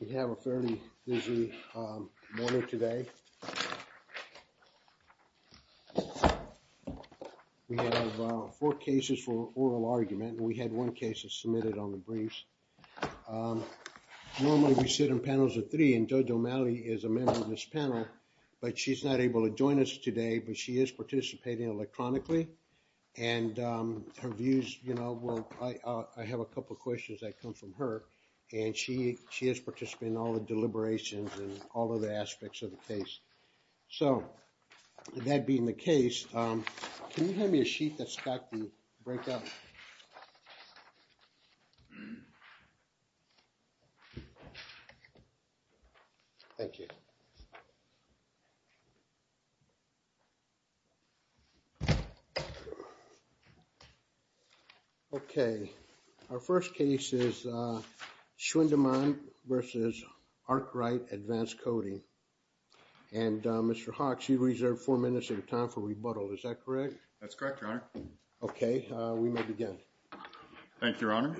We have a fairly busy morning today. We have four cases for oral argument and we had one case submitted on the briefs. Normally we sit in panels of three and JoJo Malley is a member of this panel but she's not able to join us today but she is participating electronically and her views you know well I have a couple questions that come from her and she has participated in all the deliberations and all of the aspects of the case. So that being the case, can you hand me a sheet that's got the break-up? Thank you. Okay, our first case is Schwendimann v. Arkwright Advanced Coating and Mr. Hawks, you reserved four minutes of your time for rebuttal. Is that correct? That's correct, Your Honor. Okay, we may begin. Thank you, Your Honor.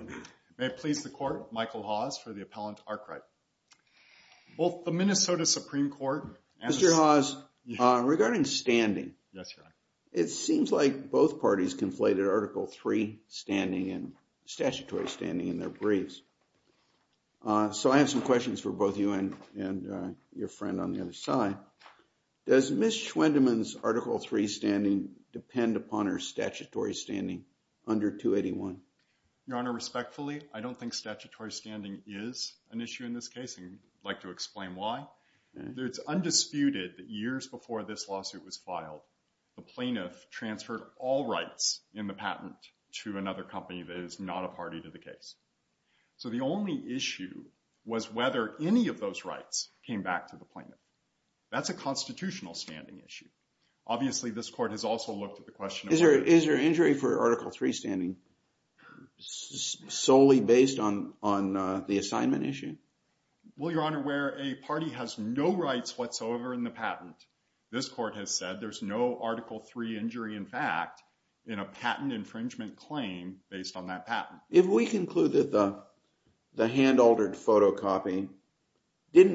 May it please the court, Michael Hawes for the appellant Arkwright. Both the Minnesota Supreme Court... Mr. Hawes, regarding standing, it seems like both parties conflated Article III standing and statutory standing in their briefs. So I have some questions for both you and your friend on the other side. Does Ms. Schwendimann's Article III standing depend upon her statutory standing under 281? Your Honor, respectfully, I don't think statutory standing is an issue in this case and I'd like to explain why. It's undisputed that years before this lawsuit was filed, the plaintiff transferred all rights in the patent to another company that is not a party to the case. So the only issue was whether any of those rights came back to the plaintiff. That's a constitutional standing issue. Obviously, this court has also looked at the question... Is there injury for Article III standing solely based on the assignment issue? Well, Your Honor, this court has said there's no Article III injury, in fact, in a patent infringement claim based on that patent. If we conclude that the hand-altered photocopy did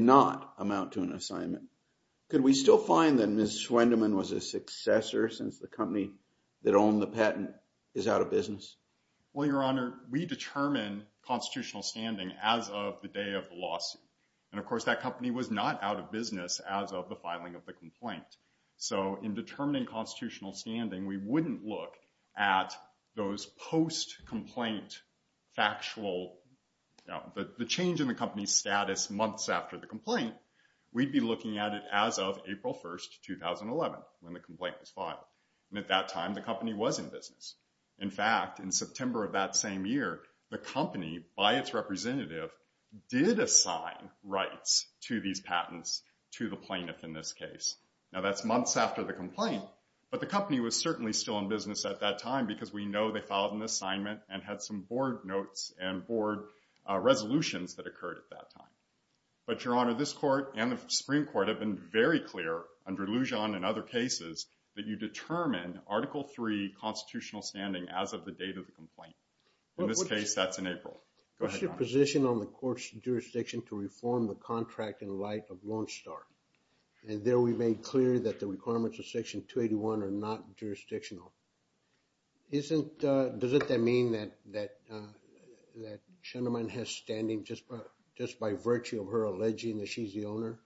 not amount to an assignment, could we still find that Ms. Schwendimann was a successor since the company that owned the patent is out of business? Well, Your Honor, we determine constitutional standing as of the day of the lawsuit. And of course, that company was not out of business as of the filing of the complaint. So in determining constitutional standing, we wouldn't look at those post-complaint factual... the change in the company's status months after the complaint. We'd be looking at it as of April 1st, 2011, when the complaint was filed. And at that time, the company was in business. In fact, in September of that same year, the company, by its representative, did assign rights to these patents to the plaintiff in this case. Now, that's months after the complaint, but the company was certainly still in business at that time because we know they filed an assignment and had some board notes and board resolutions that occurred at that time. But, Your Honor, this court and the Supreme Court have been very clear, under Lujan and other cases, that you determine Article III constitutional standing as of the date of the complaint. In this case, that's in April. Go ahead, Your Honor. What's your position on the court's jurisdiction to reform the contract in light of Lone Star? And there we made clear that the requirements of Section 281 are not jurisdictional. Does it then mean that Shenderman has standing just by virtue of her alleging that she's the owner?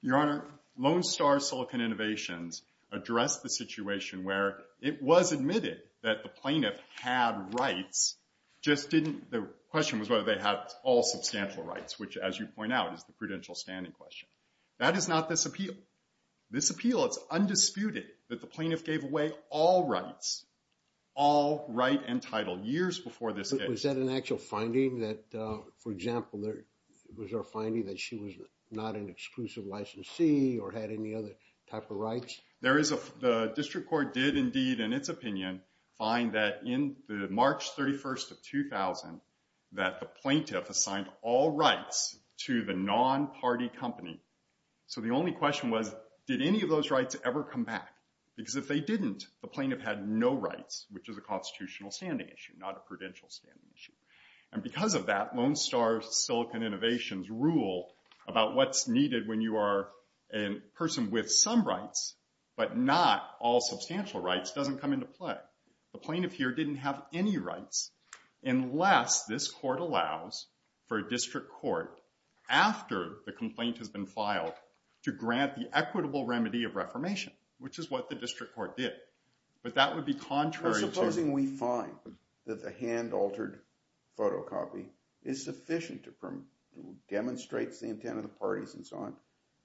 Your Honor, Lone Star Silicon Innovations addressed the situation where it was admitted that the plaintiff had rights, just didn't... the question was whether they had all substantial rights, which, as you point out, is the prudential standing question. That is not this appeal. This appeal, it's undisputed that the plaintiff gave away all rights, all right and title, years before this case. Was that an actual finding that, for example, there was a finding that she was not an exclusive licensee or had any other type of rights? There is a... the District Court did indeed, in its opinion, find that in the March 31st of 2000 that the plaintiff assigned all rights to the non-party company. So the only question was, did any of those rights ever come back? Because if they didn't, the plaintiff had no rights, which is a constitutional standing issue, not a prudential standing issue. And because of that, Lone Star Silicon Innovations rule about what's needed when you are a person with some rights but not all substantial rights doesn't come into play. The plaintiff here didn't have any rights, unless this court allows for a District Court, after the complaint has been filed, to grant the equitable remedy of reformation, which is what the District Court did. But that would be contrary to... Well, supposing we find that the hand-altered photocopy is sufficient to demonstrate the intent of the parties and so on,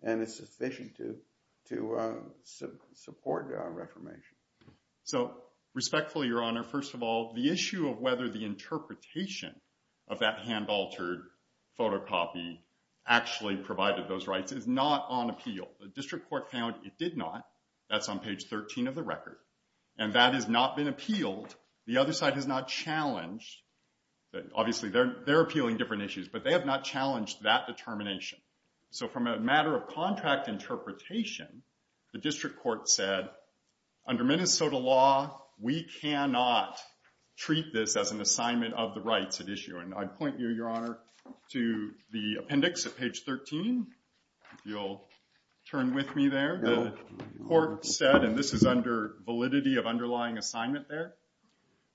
and it's sufficient to support reformation. So, respectfully, Your Honor, first of all, the issue of whether the interpretation of that hand-altered photocopy actually provided those rights is not on appeal. The District Court found it did not. That's on page 13 of the record. And that has not been appealed. The other side has not challenged... obviously they're appealing different issues, but they have not challenged that determination. So from a matter of contract interpretation, the District Court said, under Minnesota law, we cannot treat this as an assignment of the rights at issue. And I'd point you, Your Honor, to the appendix at page 13, if you'll turn with me there. The court said, and this is under validity of underlying assignment there,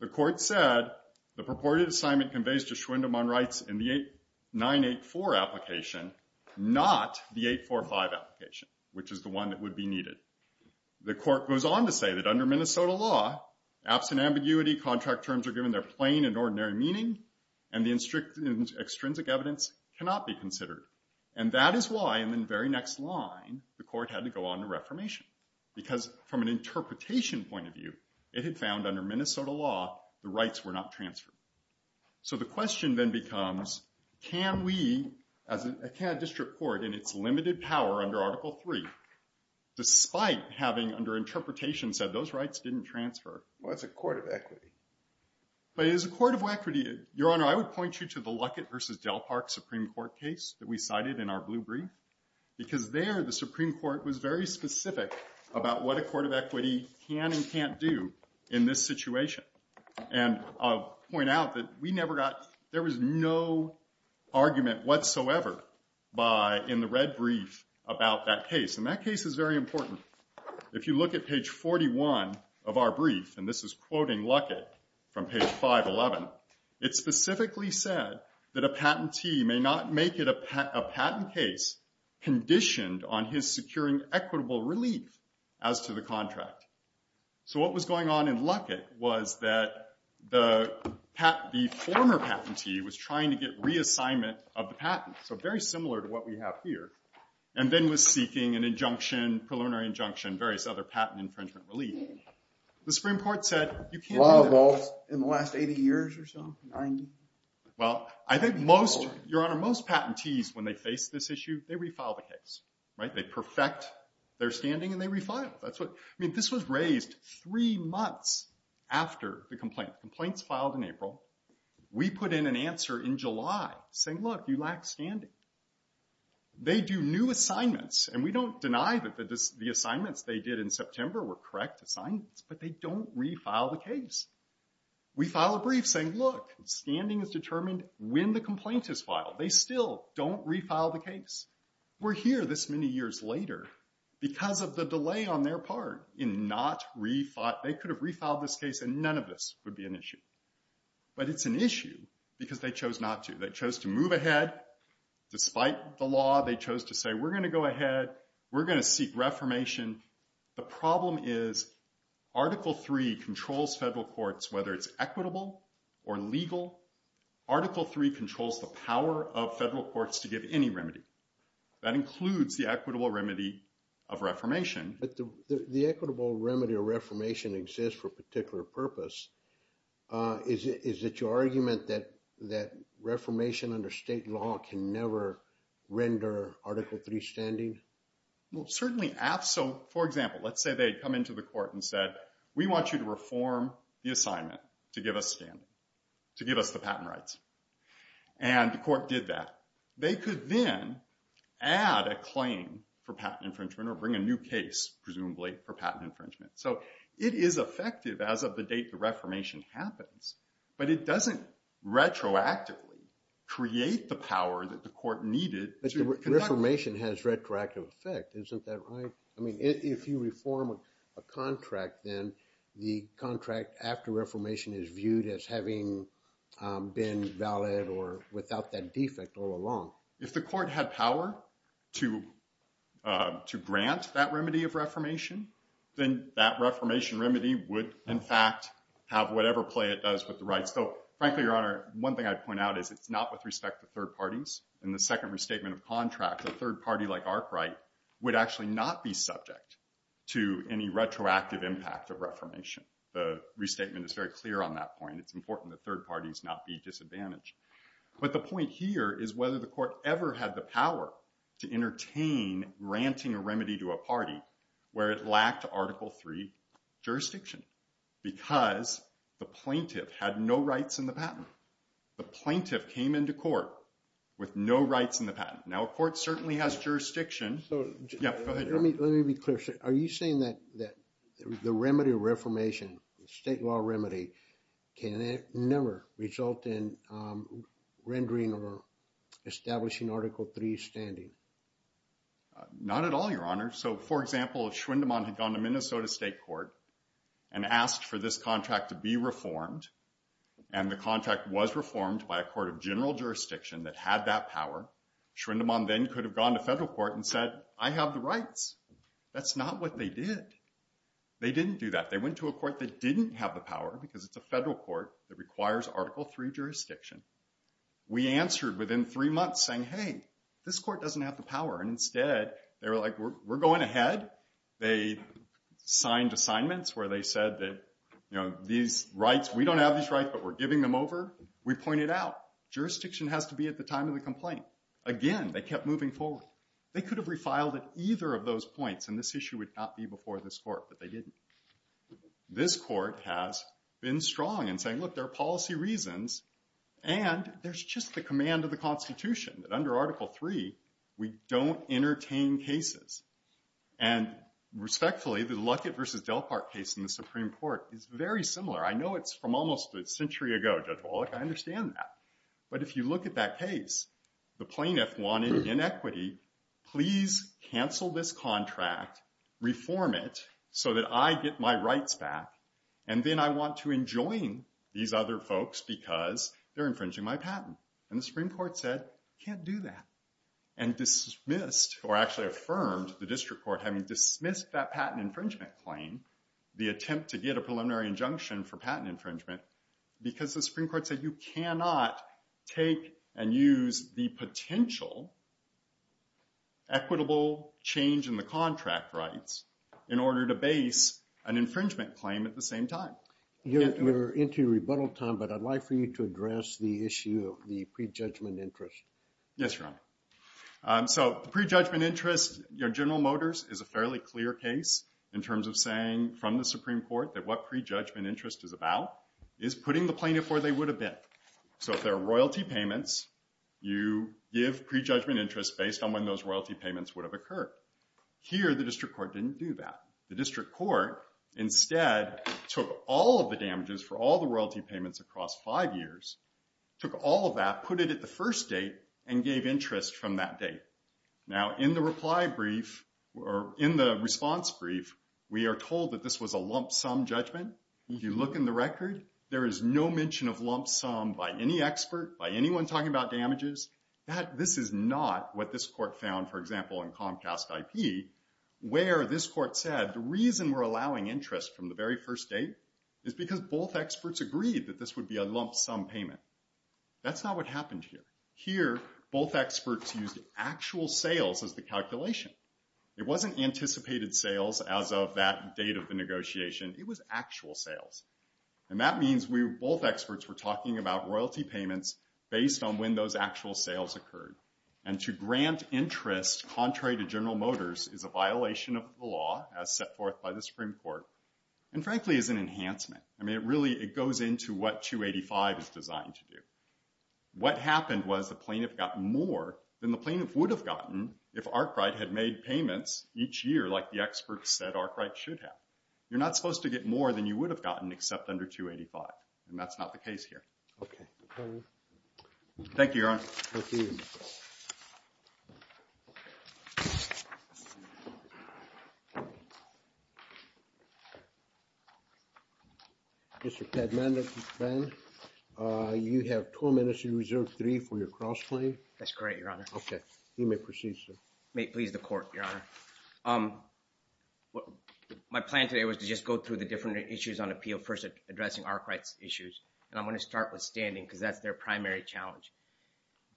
the court said, the purported assignment conveys to Schwindemann Rights in the 984 application, not the 845 application, which is the one that would be needed. The court goes on to say that under Minnesota law, absent ambiguity, contract terms are given their plain and ordinary meaning, and the extrinsic evidence cannot be considered. And that is why, in the very next line, the court had to go on to reformation. Because from an interpretation point of view, it had found under Minnesota law, the rights were not transferred. So the question then becomes, can we, as a district court, in its limited power under Article III, despite having, under interpretation, said those rights didn't transfer? Well, it's a court of equity. But it is a court of equity. Your Honor, I would point you to the Luckett v. Del Park Supreme Court case that we cited in our blue brief. Because there, the Supreme Court was very specific about what a court of equity can and can't do in this situation. And I'll point out that we never got, there was no argument whatsoever by, in the red brief, about that case. And that case is very important. If you look at page 41 of our brief, and this is quoting Luckett from page 511, it specifically said that a patentee may not make it a patent case conditioned on his securing equitable relief as to the contract. So what was going on in Luckett was that the former patentee was trying to get the assignment of the patent, so very similar to what we have here, and then was seeking an injunction, preliminary injunction, various other patent infringement relief. The Supreme Court said, you can't do that in the last 80 years or so? 90? Well, I think most, Your Honor, most patentees, when they face this issue, they refile the case, right? They perfect their standing and they refile. That's what, I mean, this was raised three months after the complaint. Complaints filed in April. We put in an answer in July saying, look, you lack standing. They do new assignments, and we don't deny that the assignments they did in September were correct assignments, but they don't refile the case. We file a brief saying, look, standing is determined when the complaint is filed. They still don't refile the case. We're here this many years later because of the delay on their part in not refiling. They could have refiled this case and none of this would be an issue, but it's an issue because they chose not to. They chose to move ahead despite the law. They chose to say, we're going to go ahead. We're going to seek reformation. The problem is Article 3 controls federal courts, whether it's equitable or legal. Article 3 controls the power of federal courts to give any remedy. That includes the equitable remedy of reformation. But the equitable remedy of reformation exists for a particular purpose. Is it your argument that reformation under state law can never render Article 3 standing? Well, certainly, for example, let's say they come into the court and said, we want you to reform the assignment to give us standing, to give us the patent rights. And the court did that. They could then add a claim for presumably for patent infringement. So it is effective as of the date the reformation happens, but it doesn't retroactively create the power that the court needed. But the reformation has retroactive effect, isn't that right? I mean, if you reform a contract, then the contract after reformation is viewed as having been valid or without that defect all along. If the court had power to grant reformation, then that reformation remedy would, in fact, have whatever play it does with the rights. So frankly, Your Honor, one thing I'd point out is it's not with respect to third parties. In the second restatement of contract, a third party like Arkwright would actually not be subject to any retroactive impact of reformation. The restatement is very clear on that point. It's important that third parties not be disadvantaged. But the point here is whether the court ever had the power to entertain granting a remedy to a party where it lacked Article 3 jurisdiction because the plaintiff had no rights in the patent. The plaintiff came into court with no rights in the patent. Now, a court certainly has jurisdiction. Yeah, go ahead, Your Honor. Let me be clear. Are you saying that the remedy of reformation, the state law remedy, can it never result in rendering or establishing Article 3 standing? Not at all, Your Honor. So for example, if Schwindemann had gone to Minnesota State Court and asked for this contract to be reformed, and the contract was reformed by a court of general jurisdiction that had that power, Schwindemann then could have gone to federal court and said, I have the rights. That's not what they did. They didn't do that. They went to a court that didn't have the power because it's a federal court that requires Article 3 jurisdiction. We answered within three months saying, hey, this court doesn't have the power. And instead, they were like, we're going ahead. They signed assignments where they said that, you know, these rights, we don't have these rights, but we're giving them over. We pointed out, jurisdiction has to be at the time of the complaint. Again, they kept moving forward. They could have refiled at either of those points, and this issue would not be before this case. This court has been strong in saying, look, there are policy reasons, and there's just the command of the Constitution that under Article 3, we don't entertain cases. And respectfully, the Luckett versus Delpart case in the Supreme Court is very similar. I know it's from almost a century ago, Judge Wallach. I understand that. But if you look at that case, the plaintiff wanted inequity. Please cancel this contract. Reform it so that I get my rights back. And then I want to enjoin these other folks because they're infringing my patent. And the Supreme Court said, can't do that, and dismissed or actually affirmed the district court having dismissed that patent infringement claim, the attempt to get a preliminary injunction for patent infringement, because the Supreme Court said you cannot take and use the potential equitable change in the contract rights in order to base an infringement claim at the same time. You're into rebuttal time, but I'd like for you to address the issue of the prejudgment interest. Yes, Your Honor. So the prejudgment interest, General Motors is a fairly clear case in terms of saying from the Supreme Court that what prejudgment would have been. So if there are royalty payments, you give prejudgment interest based on when those royalty payments would have occurred. Here, the district court didn't do that. The district court instead took all of the damages for all the royalty payments across five years, took all of that, put it at the first date, and gave interest from that date. Now, in the reply brief or in the response brief, we are told that this was a lump sum judgment. If you look in the record, there is no mention of lump sum by any expert, by anyone talking about damages. This is not what this court found, for example, in Comcast IP, where this court said the reason we're allowing interest from the very first date is because both experts agreed that this would be a lump sum payment. That's not what happened here. Here, both experts used actual sales as the calculation. It wasn't anticipated sales as of that date of the negotiation. It was actual sales. And that means both experts were talking about royalty payments based on when those actual sales occurred. And to grant interest, contrary to General Motors, is a violation of the law, as set forth by the Supreme Court, and frankly is an enhancement. I mean, it really goes into what 285 is designed to do. What happened was the plaintiff got more than the plaintiff would have gotten if Arkwright had made payments each year like the you would have gotten except under 285. And that's not the case here. Okay. Thank you, Your Honor. Mr. Padmanabhan, you have two minutes to reserve three for your cross-claim. That's correct, Your Honor. Okay. You may proceed, sir. Please, the court, Your Honor. My plan today was to just go through the issues on appeal, first addressing Arkwright's issues. And I'm going to start with standing because that's their primary challenge.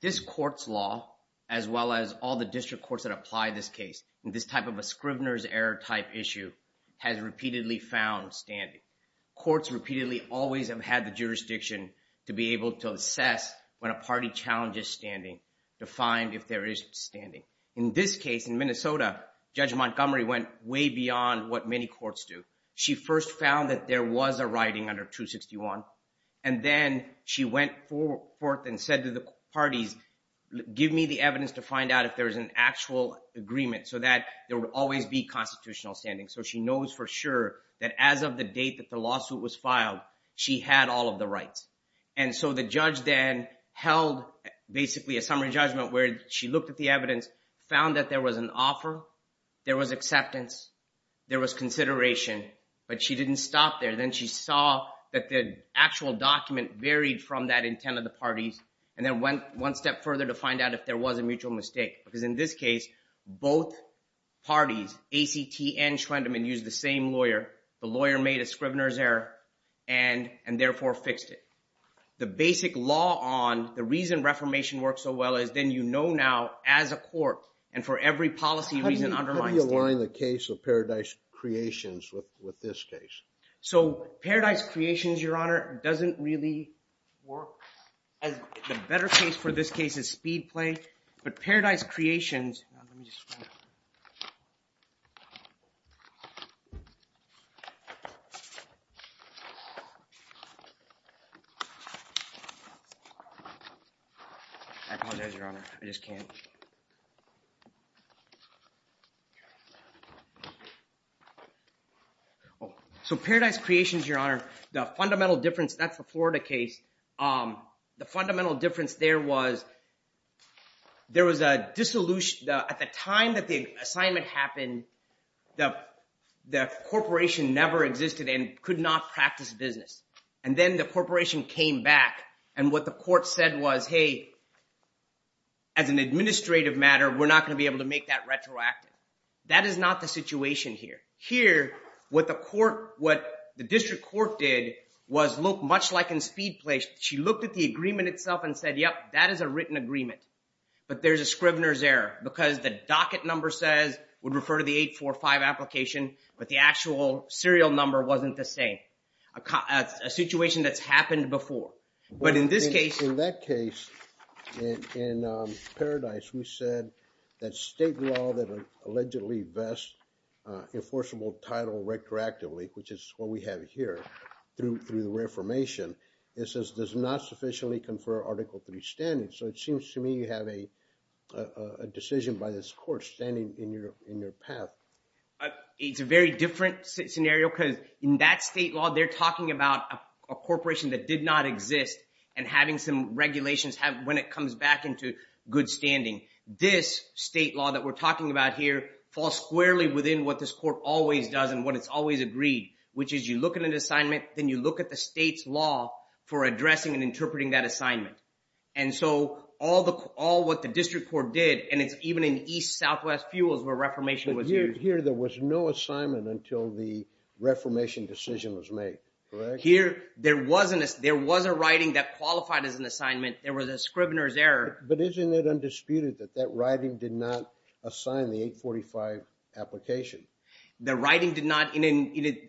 This court's law, as well as all the district courts that apply this case in this type of a scrivener's error type issue, has repeatedly found standing. Courts repeatedly always have had the jurisdiction to be able to assess when a party challenges standing to find if there is standing. In this case, in Minnesota, Judge Montgomery went way beyond what many courts do. She first found that there was a writing under 261. And then she went forth and said to the parties, give me the evidence to find out if there's an actual agreement so that there would always be constitutional standing. So she knows for sure that as of the date that the lawsuit was filed, she had all of the rights. And so the judge then held basically a summary judgment where she looked at the evidence, found that there was an offer, there was acceptance, there was consideration, but she didn't stop there. Then she saw that the actual document varied from that intent of the parties, and then went one step further to find out if there was a mutual mistake. Because in this case, both parties, ACT and Schwendemann, used the same lawyer. The lawyer made a scrivener's error and therefore fixed it. The basic law on the reason Reformation works so well is then you know now as a every policy reason undermines. How do you align the case of Paradise Creations with this case? So Paradise Creations, your honor, doesn't really work. The better case for this case is Speedplay. But Paradise Creations... Let me just find it. I apologize, your honor. I just can't. So Paradise Creations, your honor, the fundamental difference, that's the Florida case, the fundamental difference there was there was a dissolution. At the time that the assignment happened, the corporation never existed and could not practice business. And then the corporation came back and what the court said was, hey, as an administrative matter, we're not going to be able to make that retroactive. That is not the situation here. Here, what the court, what the Speedplay, she looked at the agreement itself and said, yep, that is a written agreement. But there's a scrivener's error because the docket number says, would refer to the 845 application, but the actual serial number wasn't the same. A situation that's happened before. But in this case... In that case, in Paradise, we said that state law that allegedly best enforceable title retroactively, which is what we have here through the affirmation, it says does not sufficiently confer article three standing. So it seems to me you have a decision by this court standing in your path. It's a very different scenario because in that state law, they're talking about a corporation that did not exist and having some regulations have when it comes back into good standing. This state law that we're talking about here falls squarely within what this court always does and what it's always agreed, which is you look at an assignment, then you look at the state's law for addressing and interpreting that assignment. And so all the, all what the district court did, and it's even in East Southwest Fuels where reformation was used. Here, there was no assignment until the reformation decision was made, correct? Here, there wasn't, there was a writing that qualified as an assignment. There was a scrivener's error. But isn't it undisputed that that writing did not assign the 845 application? The writing did not,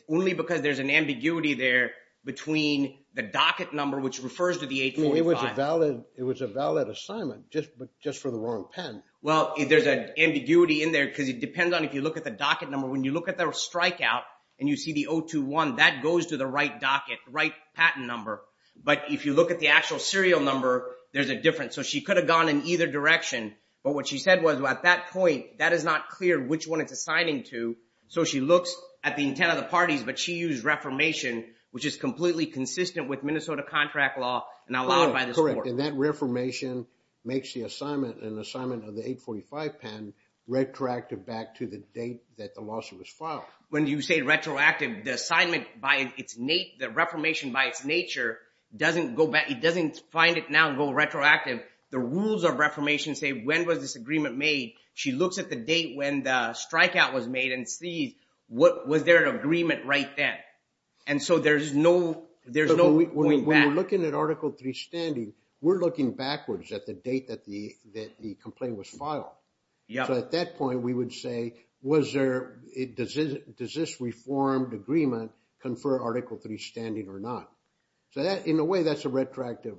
only because there's an ambiguity there between the docket number, which refers to the 845. I mean, it was a valid, it was a valid assignment, just for the wrong pen. Well, there's an ambiguity in there because it depends on if you look at the docket number. When you look at the strikeout and you see the 021, that goes to the right docket, right patent number. But if you look at the actual serial number, there's a difference. So she could have gone in either direction. But what she said was, well, at that point, that is not clear which one it's assigning to. So she looks at the intent of the parties, but she used reformation, which is completely consistent with Minnesota contract law and allowed by this court. Correct, and that reformation makes the assignment, an assignment of the 845 pen, retroactive back to the date that the lawsuit was filed. When you say retroactive, the assignment by its, the reformation by its nature doesn't go back, it doesn't find it now and go retroactive. The rules of agreement made, she looks at the date when the strikeout was made and sees what, was there an agreement right then? And so there's no, there's no point back. When we're looking at Article III standing, we're looking backwards at the date that the, that the complaint was filed. So at that point, we would say, was there, does this reformed agreement confer Article III standing or not? So that, in a way, that's a retroactive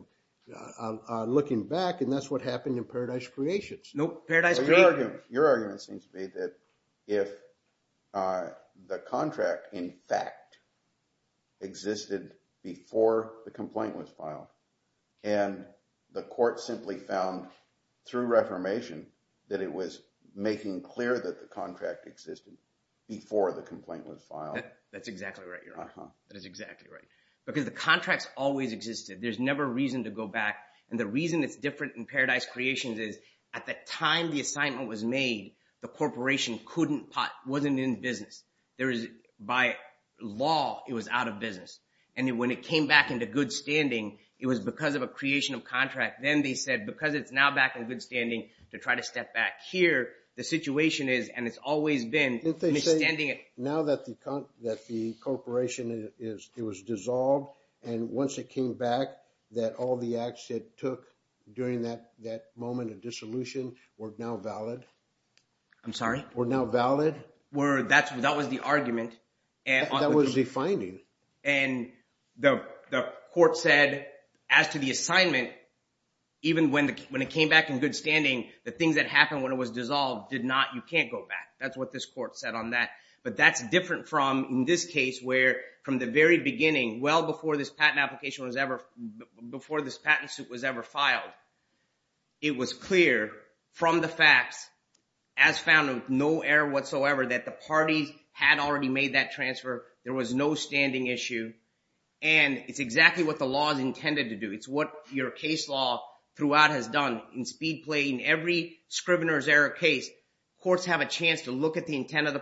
looking back and that's what happened in Paradise Creek. Your argument seems to be that if the contract in fact existed before the complaint was filed and the court simply found through reformation that it was making clear that the contract existed before the complaint was filed. That's exactly right, Your Honor. That is exactly right. Because the contracts always existed. There's never reason to go back and the reason it's different in Paradise Creations is at the time the assignment was made, the corporation couldn't pot, wasn't in business. There is, by law, it was out of business. And when it came back into good standing, it was because of a creation of contract. Then they said, because it's now back in good standing to try to step back here, the situation is, and it's always been, misstanding it. Now that the, that the corporation is, it was dissolved and once it came back, that all the acts it took during that moment of dissolution were now valid. I'm sorry? Were now valid. Were, that was the argument. That was the finding. And the court said, as to the assignment, even when it came back in good standing, the things that happened when it was dissolved did not, you can't go back. That's what this court said on that. But that's different from, in this case, where from the very beginning, well before this patent application was ever, before this patent suit was ever filed, it was clear from the facts as found of no error whatsoever, that the parties had already made that transfer. There was no standing issue. And it's exactly what the law is intended to do. It's what your case law throughout has done in speed play. In every Scrivener's error case, courts have a chance to look at the intent of the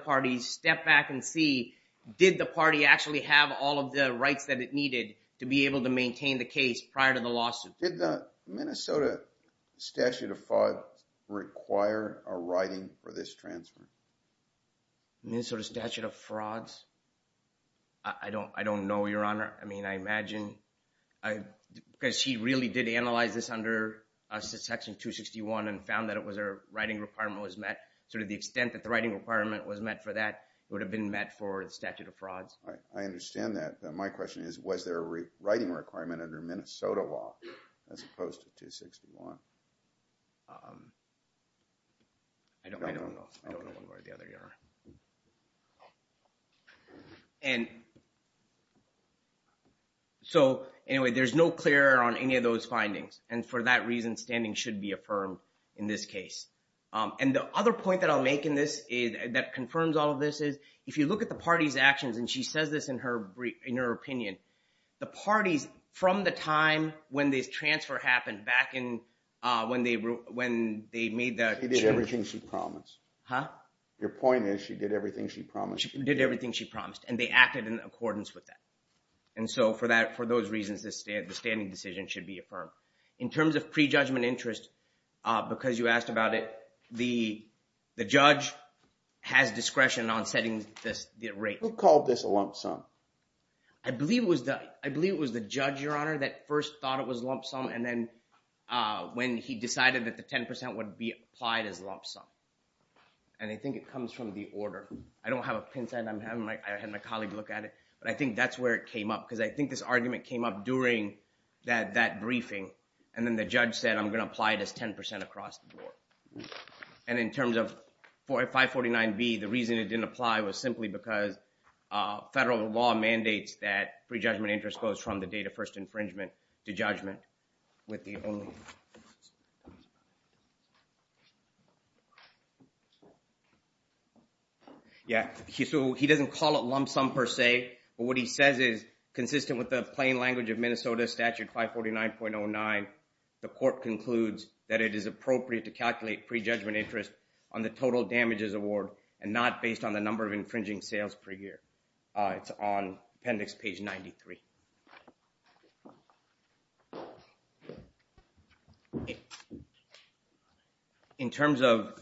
actually have all of the rights that it needed to be able to maintain the case prior to the lawsuit. Did the Minnesota statute of fraud require a writing for this transfer? Minnesota statute of frauds? I don't know, Your Honor. I mean, I imagine, because he really did analyze this under section 261 and found that it was a writing requirement was met. So to the extent that the writing requirement was met for that, it would have met for the statute of frauds. I understand that. My question is, was there a writing requirement under Minnesota law as opposed to 261? I don't know. I don't know, Your Honor. And so anyway, there's no clear on any of those findings. And for that reason, standing should be affirmed in this case. And the other point that I'll make in this that confirms all of this is, if you look at the party's actions, and she says this in her opinion, the parties from the time when this transfer happened back when they made the... She did everything she promised. Your point is, she did everything she promised. She did everything she promised, and they acted in accordance with that. And so for those reasons, the standing decision should be affirmed. In terms of prejudgment interest, because you asked about it, the judge has discretion on setting the rate. Who called this a lump sum? I believe it was the judge, Your Honor, that first thought it was lump sum. And then when he decided that the 10% would be applied as lump sum. And I think it comes from the order. I don't have a pin side. I had my colleague look at it. But I think that's where it came up, because I think this argument came up during that briefing. And then the judge said, I'm going to apply this 10% across the board. And in terms of 549B, the reason it didn't apply was simply because federal law mandates that prejudgment interest goes from the date of first infringement to judgment with the only... Yeah, so he doesn't call it lump sum per se. But what he says is consistent with the plain language of Minnesota statute 549.09, the court concludes that it is appropriate to calculate prejudgment interest on the total damages award and not based on the number of infringing sales per year. It's on appendix page 93. In terms of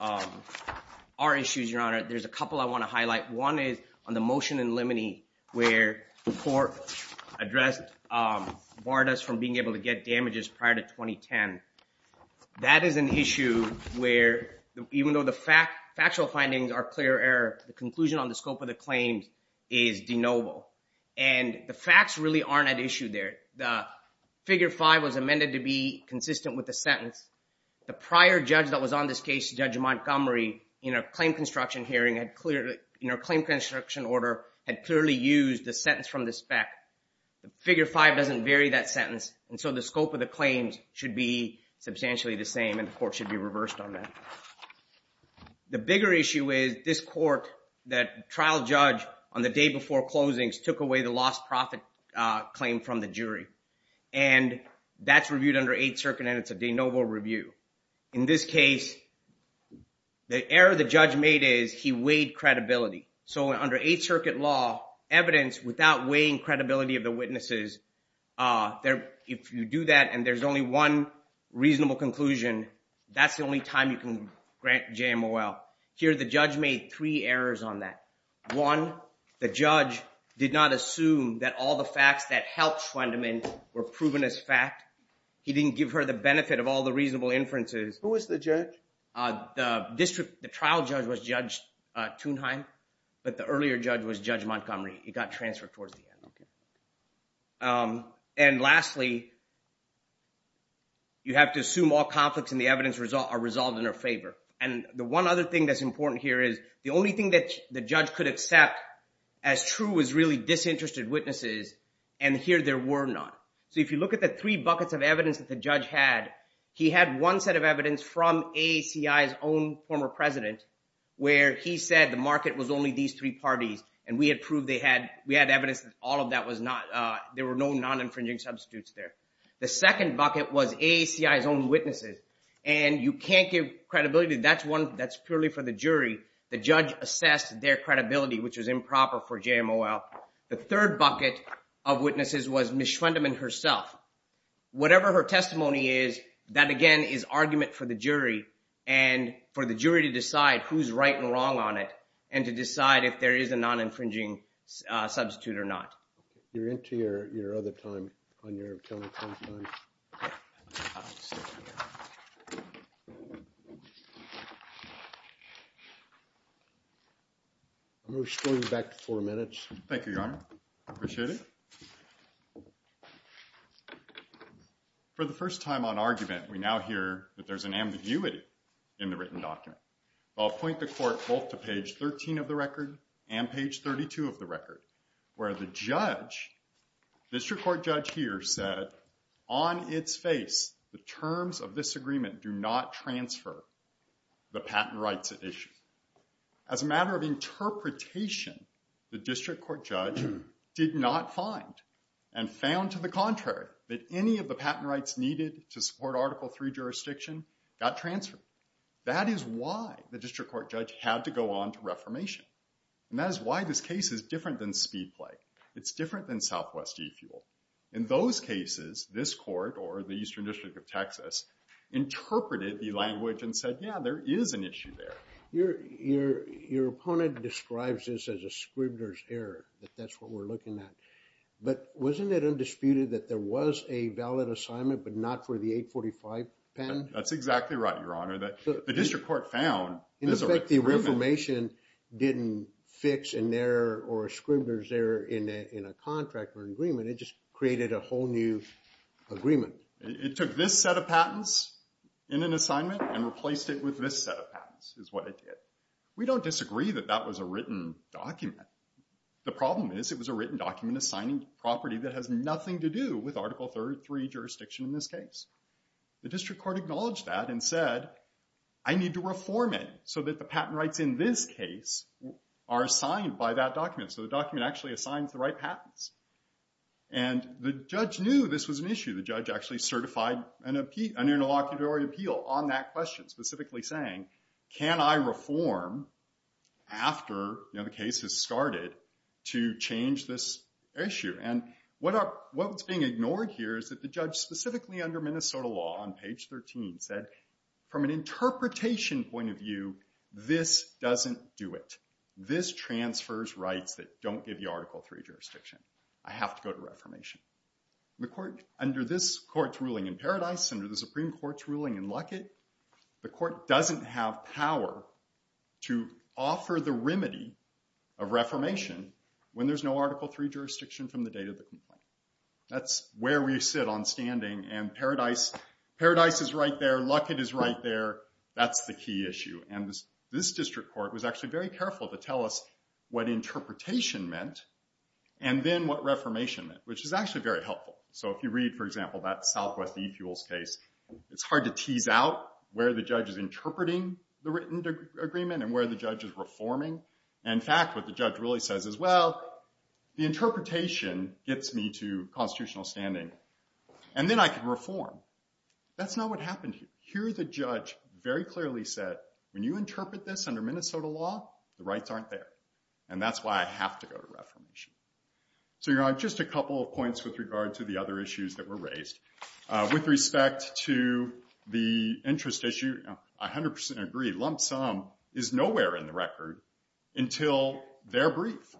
our issues, Your Honor, there's a couple I want to highlight. One is on the motion in limine where the court addressed, barred us from being able to get damages prior to 2010. That is an issue where even though the factual findings are clear error, the conclusion on the scope of the claims is de novo. And the facts really aren't at issue there. The figure five was amended to be consistent with the sentence. The prior judge that was on this case, Judge Montgomery, in a claim construction hearing had clearly, in a claim construction order, had clearly used the sentence from the spec. The figure five doesn't vary that sentence. And so the scope of the claims should be substantially the same and the court should be reversed on that. The bigger issue is this court, that trial judge on the day before closings took away the lost profit claim from the jury. And that's reviewed under Eighth Circuit and it's a de novo review. In this case, the error the judge made is he weighed credibility. So under Eighth Circuit law, evidence without weighing credibility of the witnesses, if you do that and there's only one reasonable conclusion, that's the only time you can grant JMOL. Here the judge made three errors on that. One, the judge did not assume that all the facts that helped Schwendemann were proven as fact. He didn't give her the benefit of all the reasonable inferences. Who was the judge? The district, the trial judge was Judge Thunheim, but the earlier judge was Judge Montgomery. He got transferred towards the end. And lastly, you have to assume all conflicts in the evidence are resolved in her favor. And the one other thing that's important here is the only thing that the judge could accept as true was really disinterested witnesses and here there were none. So if you look at the three buckets of evidence that the judge had, he had one set of evidence from AACI's own former president where he said the market was only these three parties and we had proved they had, we had evidence that all of that was not, there were no non-infringing substitutes there. The second bucket was AACI's own witnesses and you can't give credibility. That's one that's purely for the jury. The judge assessed their credibility, which was improper for JMOL. The third bucket of witnesses was Ms. Schwendeman herself. Whatever her testimony is, that again is argument for the jury and for the jury to decide who's right and wrong on it and to decide if there is a non-infringing substitute or not. You're into your, your other time on your teleconference time. I'm going to scroll you back to four minutes. Thank you, Your Honor. Appreciate it. For the first time on argument, we now hear that there's an ambiguity in the written document. I'll point the court both to page 13 of the record and page 32 of the record where the judge, district court judge here, said on its face the terms of this agreement do not transfer the patent rights at issue. As a matter of interpretation, the district court judge did not find and found to the contrary that any of the patent rights needed to support Article III jurisdiction got transferred. That is why the district court judge had to go on to reformation and that is why this case is different than speed play. It's different than southwest e-fuel. In those cases, this court or the Eastern District of Texas interpreted the language and said, yeah, there is an issue there. Your, your, your opponent describes this as a scrivener's error, that that's what we're looking at. But wasn't it undisputed that there was a valid assignment but not for the 845 patent? That's exactly right, your honor, that the district court found. In effect, the reformation didn't fix an error or a scrivener's error in a, in a contract or agreement. It just created a whole new agreement. It took this set of patents in an assignment and replaced it with this set of patents is what it did. We don't disagree that that was a written document. The problem is it was a written document assigning property that has nothing to do with Article III jurisdiction in this case. The district court acknowledged that and said, I need to reform it so that the patent rights in this case are assigned by that document. So the document actually assigns the right patents. And the judge knew this was an issue. The judge actually certified an appeal, an interlocutory appeal on that question specifically saying, can I reform after, you know, the case has started to change this issue? And what are, what's being ignored here is that the judge specifically under Minnesota law on page 13 said, from an interpretation point of view, this doesn't do it. This transfers rights that don't give you Article III jurisdiction. I have to go to reformation. The court, under this court's ruling in Paradise, under the Supreme Court's ruling in Luckett, the court doesn't have power to offer the remedy of reformation when there's no Article III jurisdiction from the date of the complaint. That's where we sit on standing. And Paradise, Paradise is right there. Luckett is right there. That's the key issue. And this district court was actually very careful to tell us what interpretation meant and then what reformation meant, which is actually very helpful. So if you read, for example, that Southwest eFuels case, it's hard to tease out where the judge is interpreting the written agreement and where the judge is reforming. In fact, what the judge really says is, well, the interpretation gets me to constitutional standing, and then I can reform. That's not what happened here. Here the judge very clearly said, when you interpret this under Minnesota law, the rights aren't there. And that's why I have to go to reformation. So you're on just a couple of points with regard to the other issues that were raised. With respect to the interest issue, I 100% agree. Lump sum is nowhere in the record until they're briefed.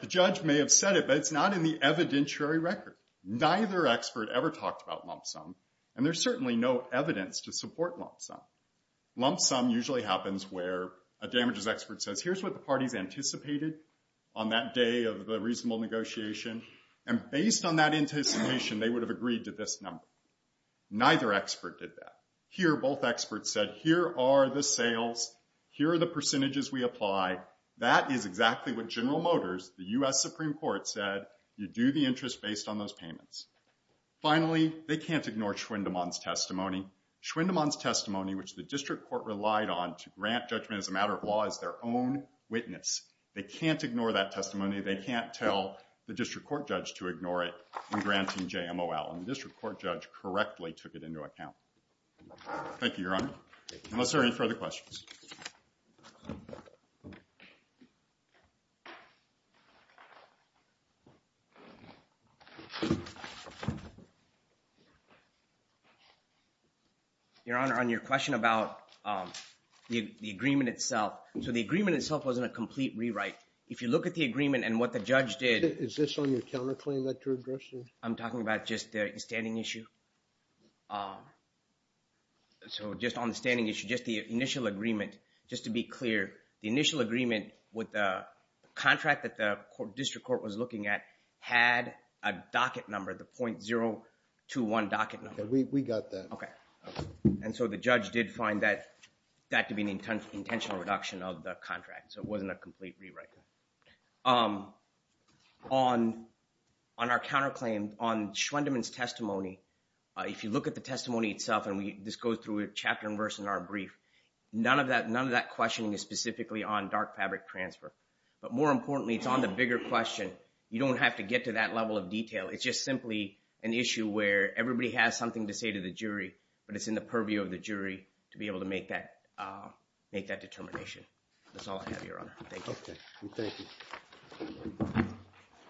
The judge may have said it, but it's not in the evidentiary record. Neither expert ever talked about lump sum, and there's certainly no evidence to support lump sum. Lump sum usually happens where a damages expert says, here's what the parties anticipated on that day of the reasonable negotiation. And based on that anticipation, they would have agreed to this number. Neither expert did that. Here, both experts said, here are the sales. Here are the percentages we apply. That is exactly what General Motors, the US Supreme Court, said. You do the interest based on those payments. Finally, they can't ignore Schwindemann's testimony. Schwindemann's testimony, which the district court relied on to grant judgment as a matter of law, is their own witness. They can't ignore that testimony. They can't tell the district court to ignore it in granting JMOL. And the district court judge correctly took it into account. Thank you, Your Honor. Unless there are any further questions. Your Honor, on your question about the agreement itself. So the agreement itself wasn't a complete rewrite. If you look at the agreement and what the judge did. Is this on your counterclaim that you're addressing? I'm talking about just the standing issue. So just on the standing issue, just the initial agreement. Just to be clear, the initial agreement with the contract that the district court was looking at had a docket number, the .021 docket number. We got that. And so the judge did find that to be an intentional reduction of the contract. So it wasn't a complete rewrite. On our counterclaim, on Schwindemann's testimony, if you look at the testimony itself, and this goes through a chapter and verse in our brief, none of that questioning is specifically on dark fabric transfer. But more importantly, it's on the bigger question. You don't have to get to that level of detail. It's just simply an issue where everybody has something to say to the jury, but it's in the purview of the jury to be able to make that determination. That's all I have, Your Honor. Thank you.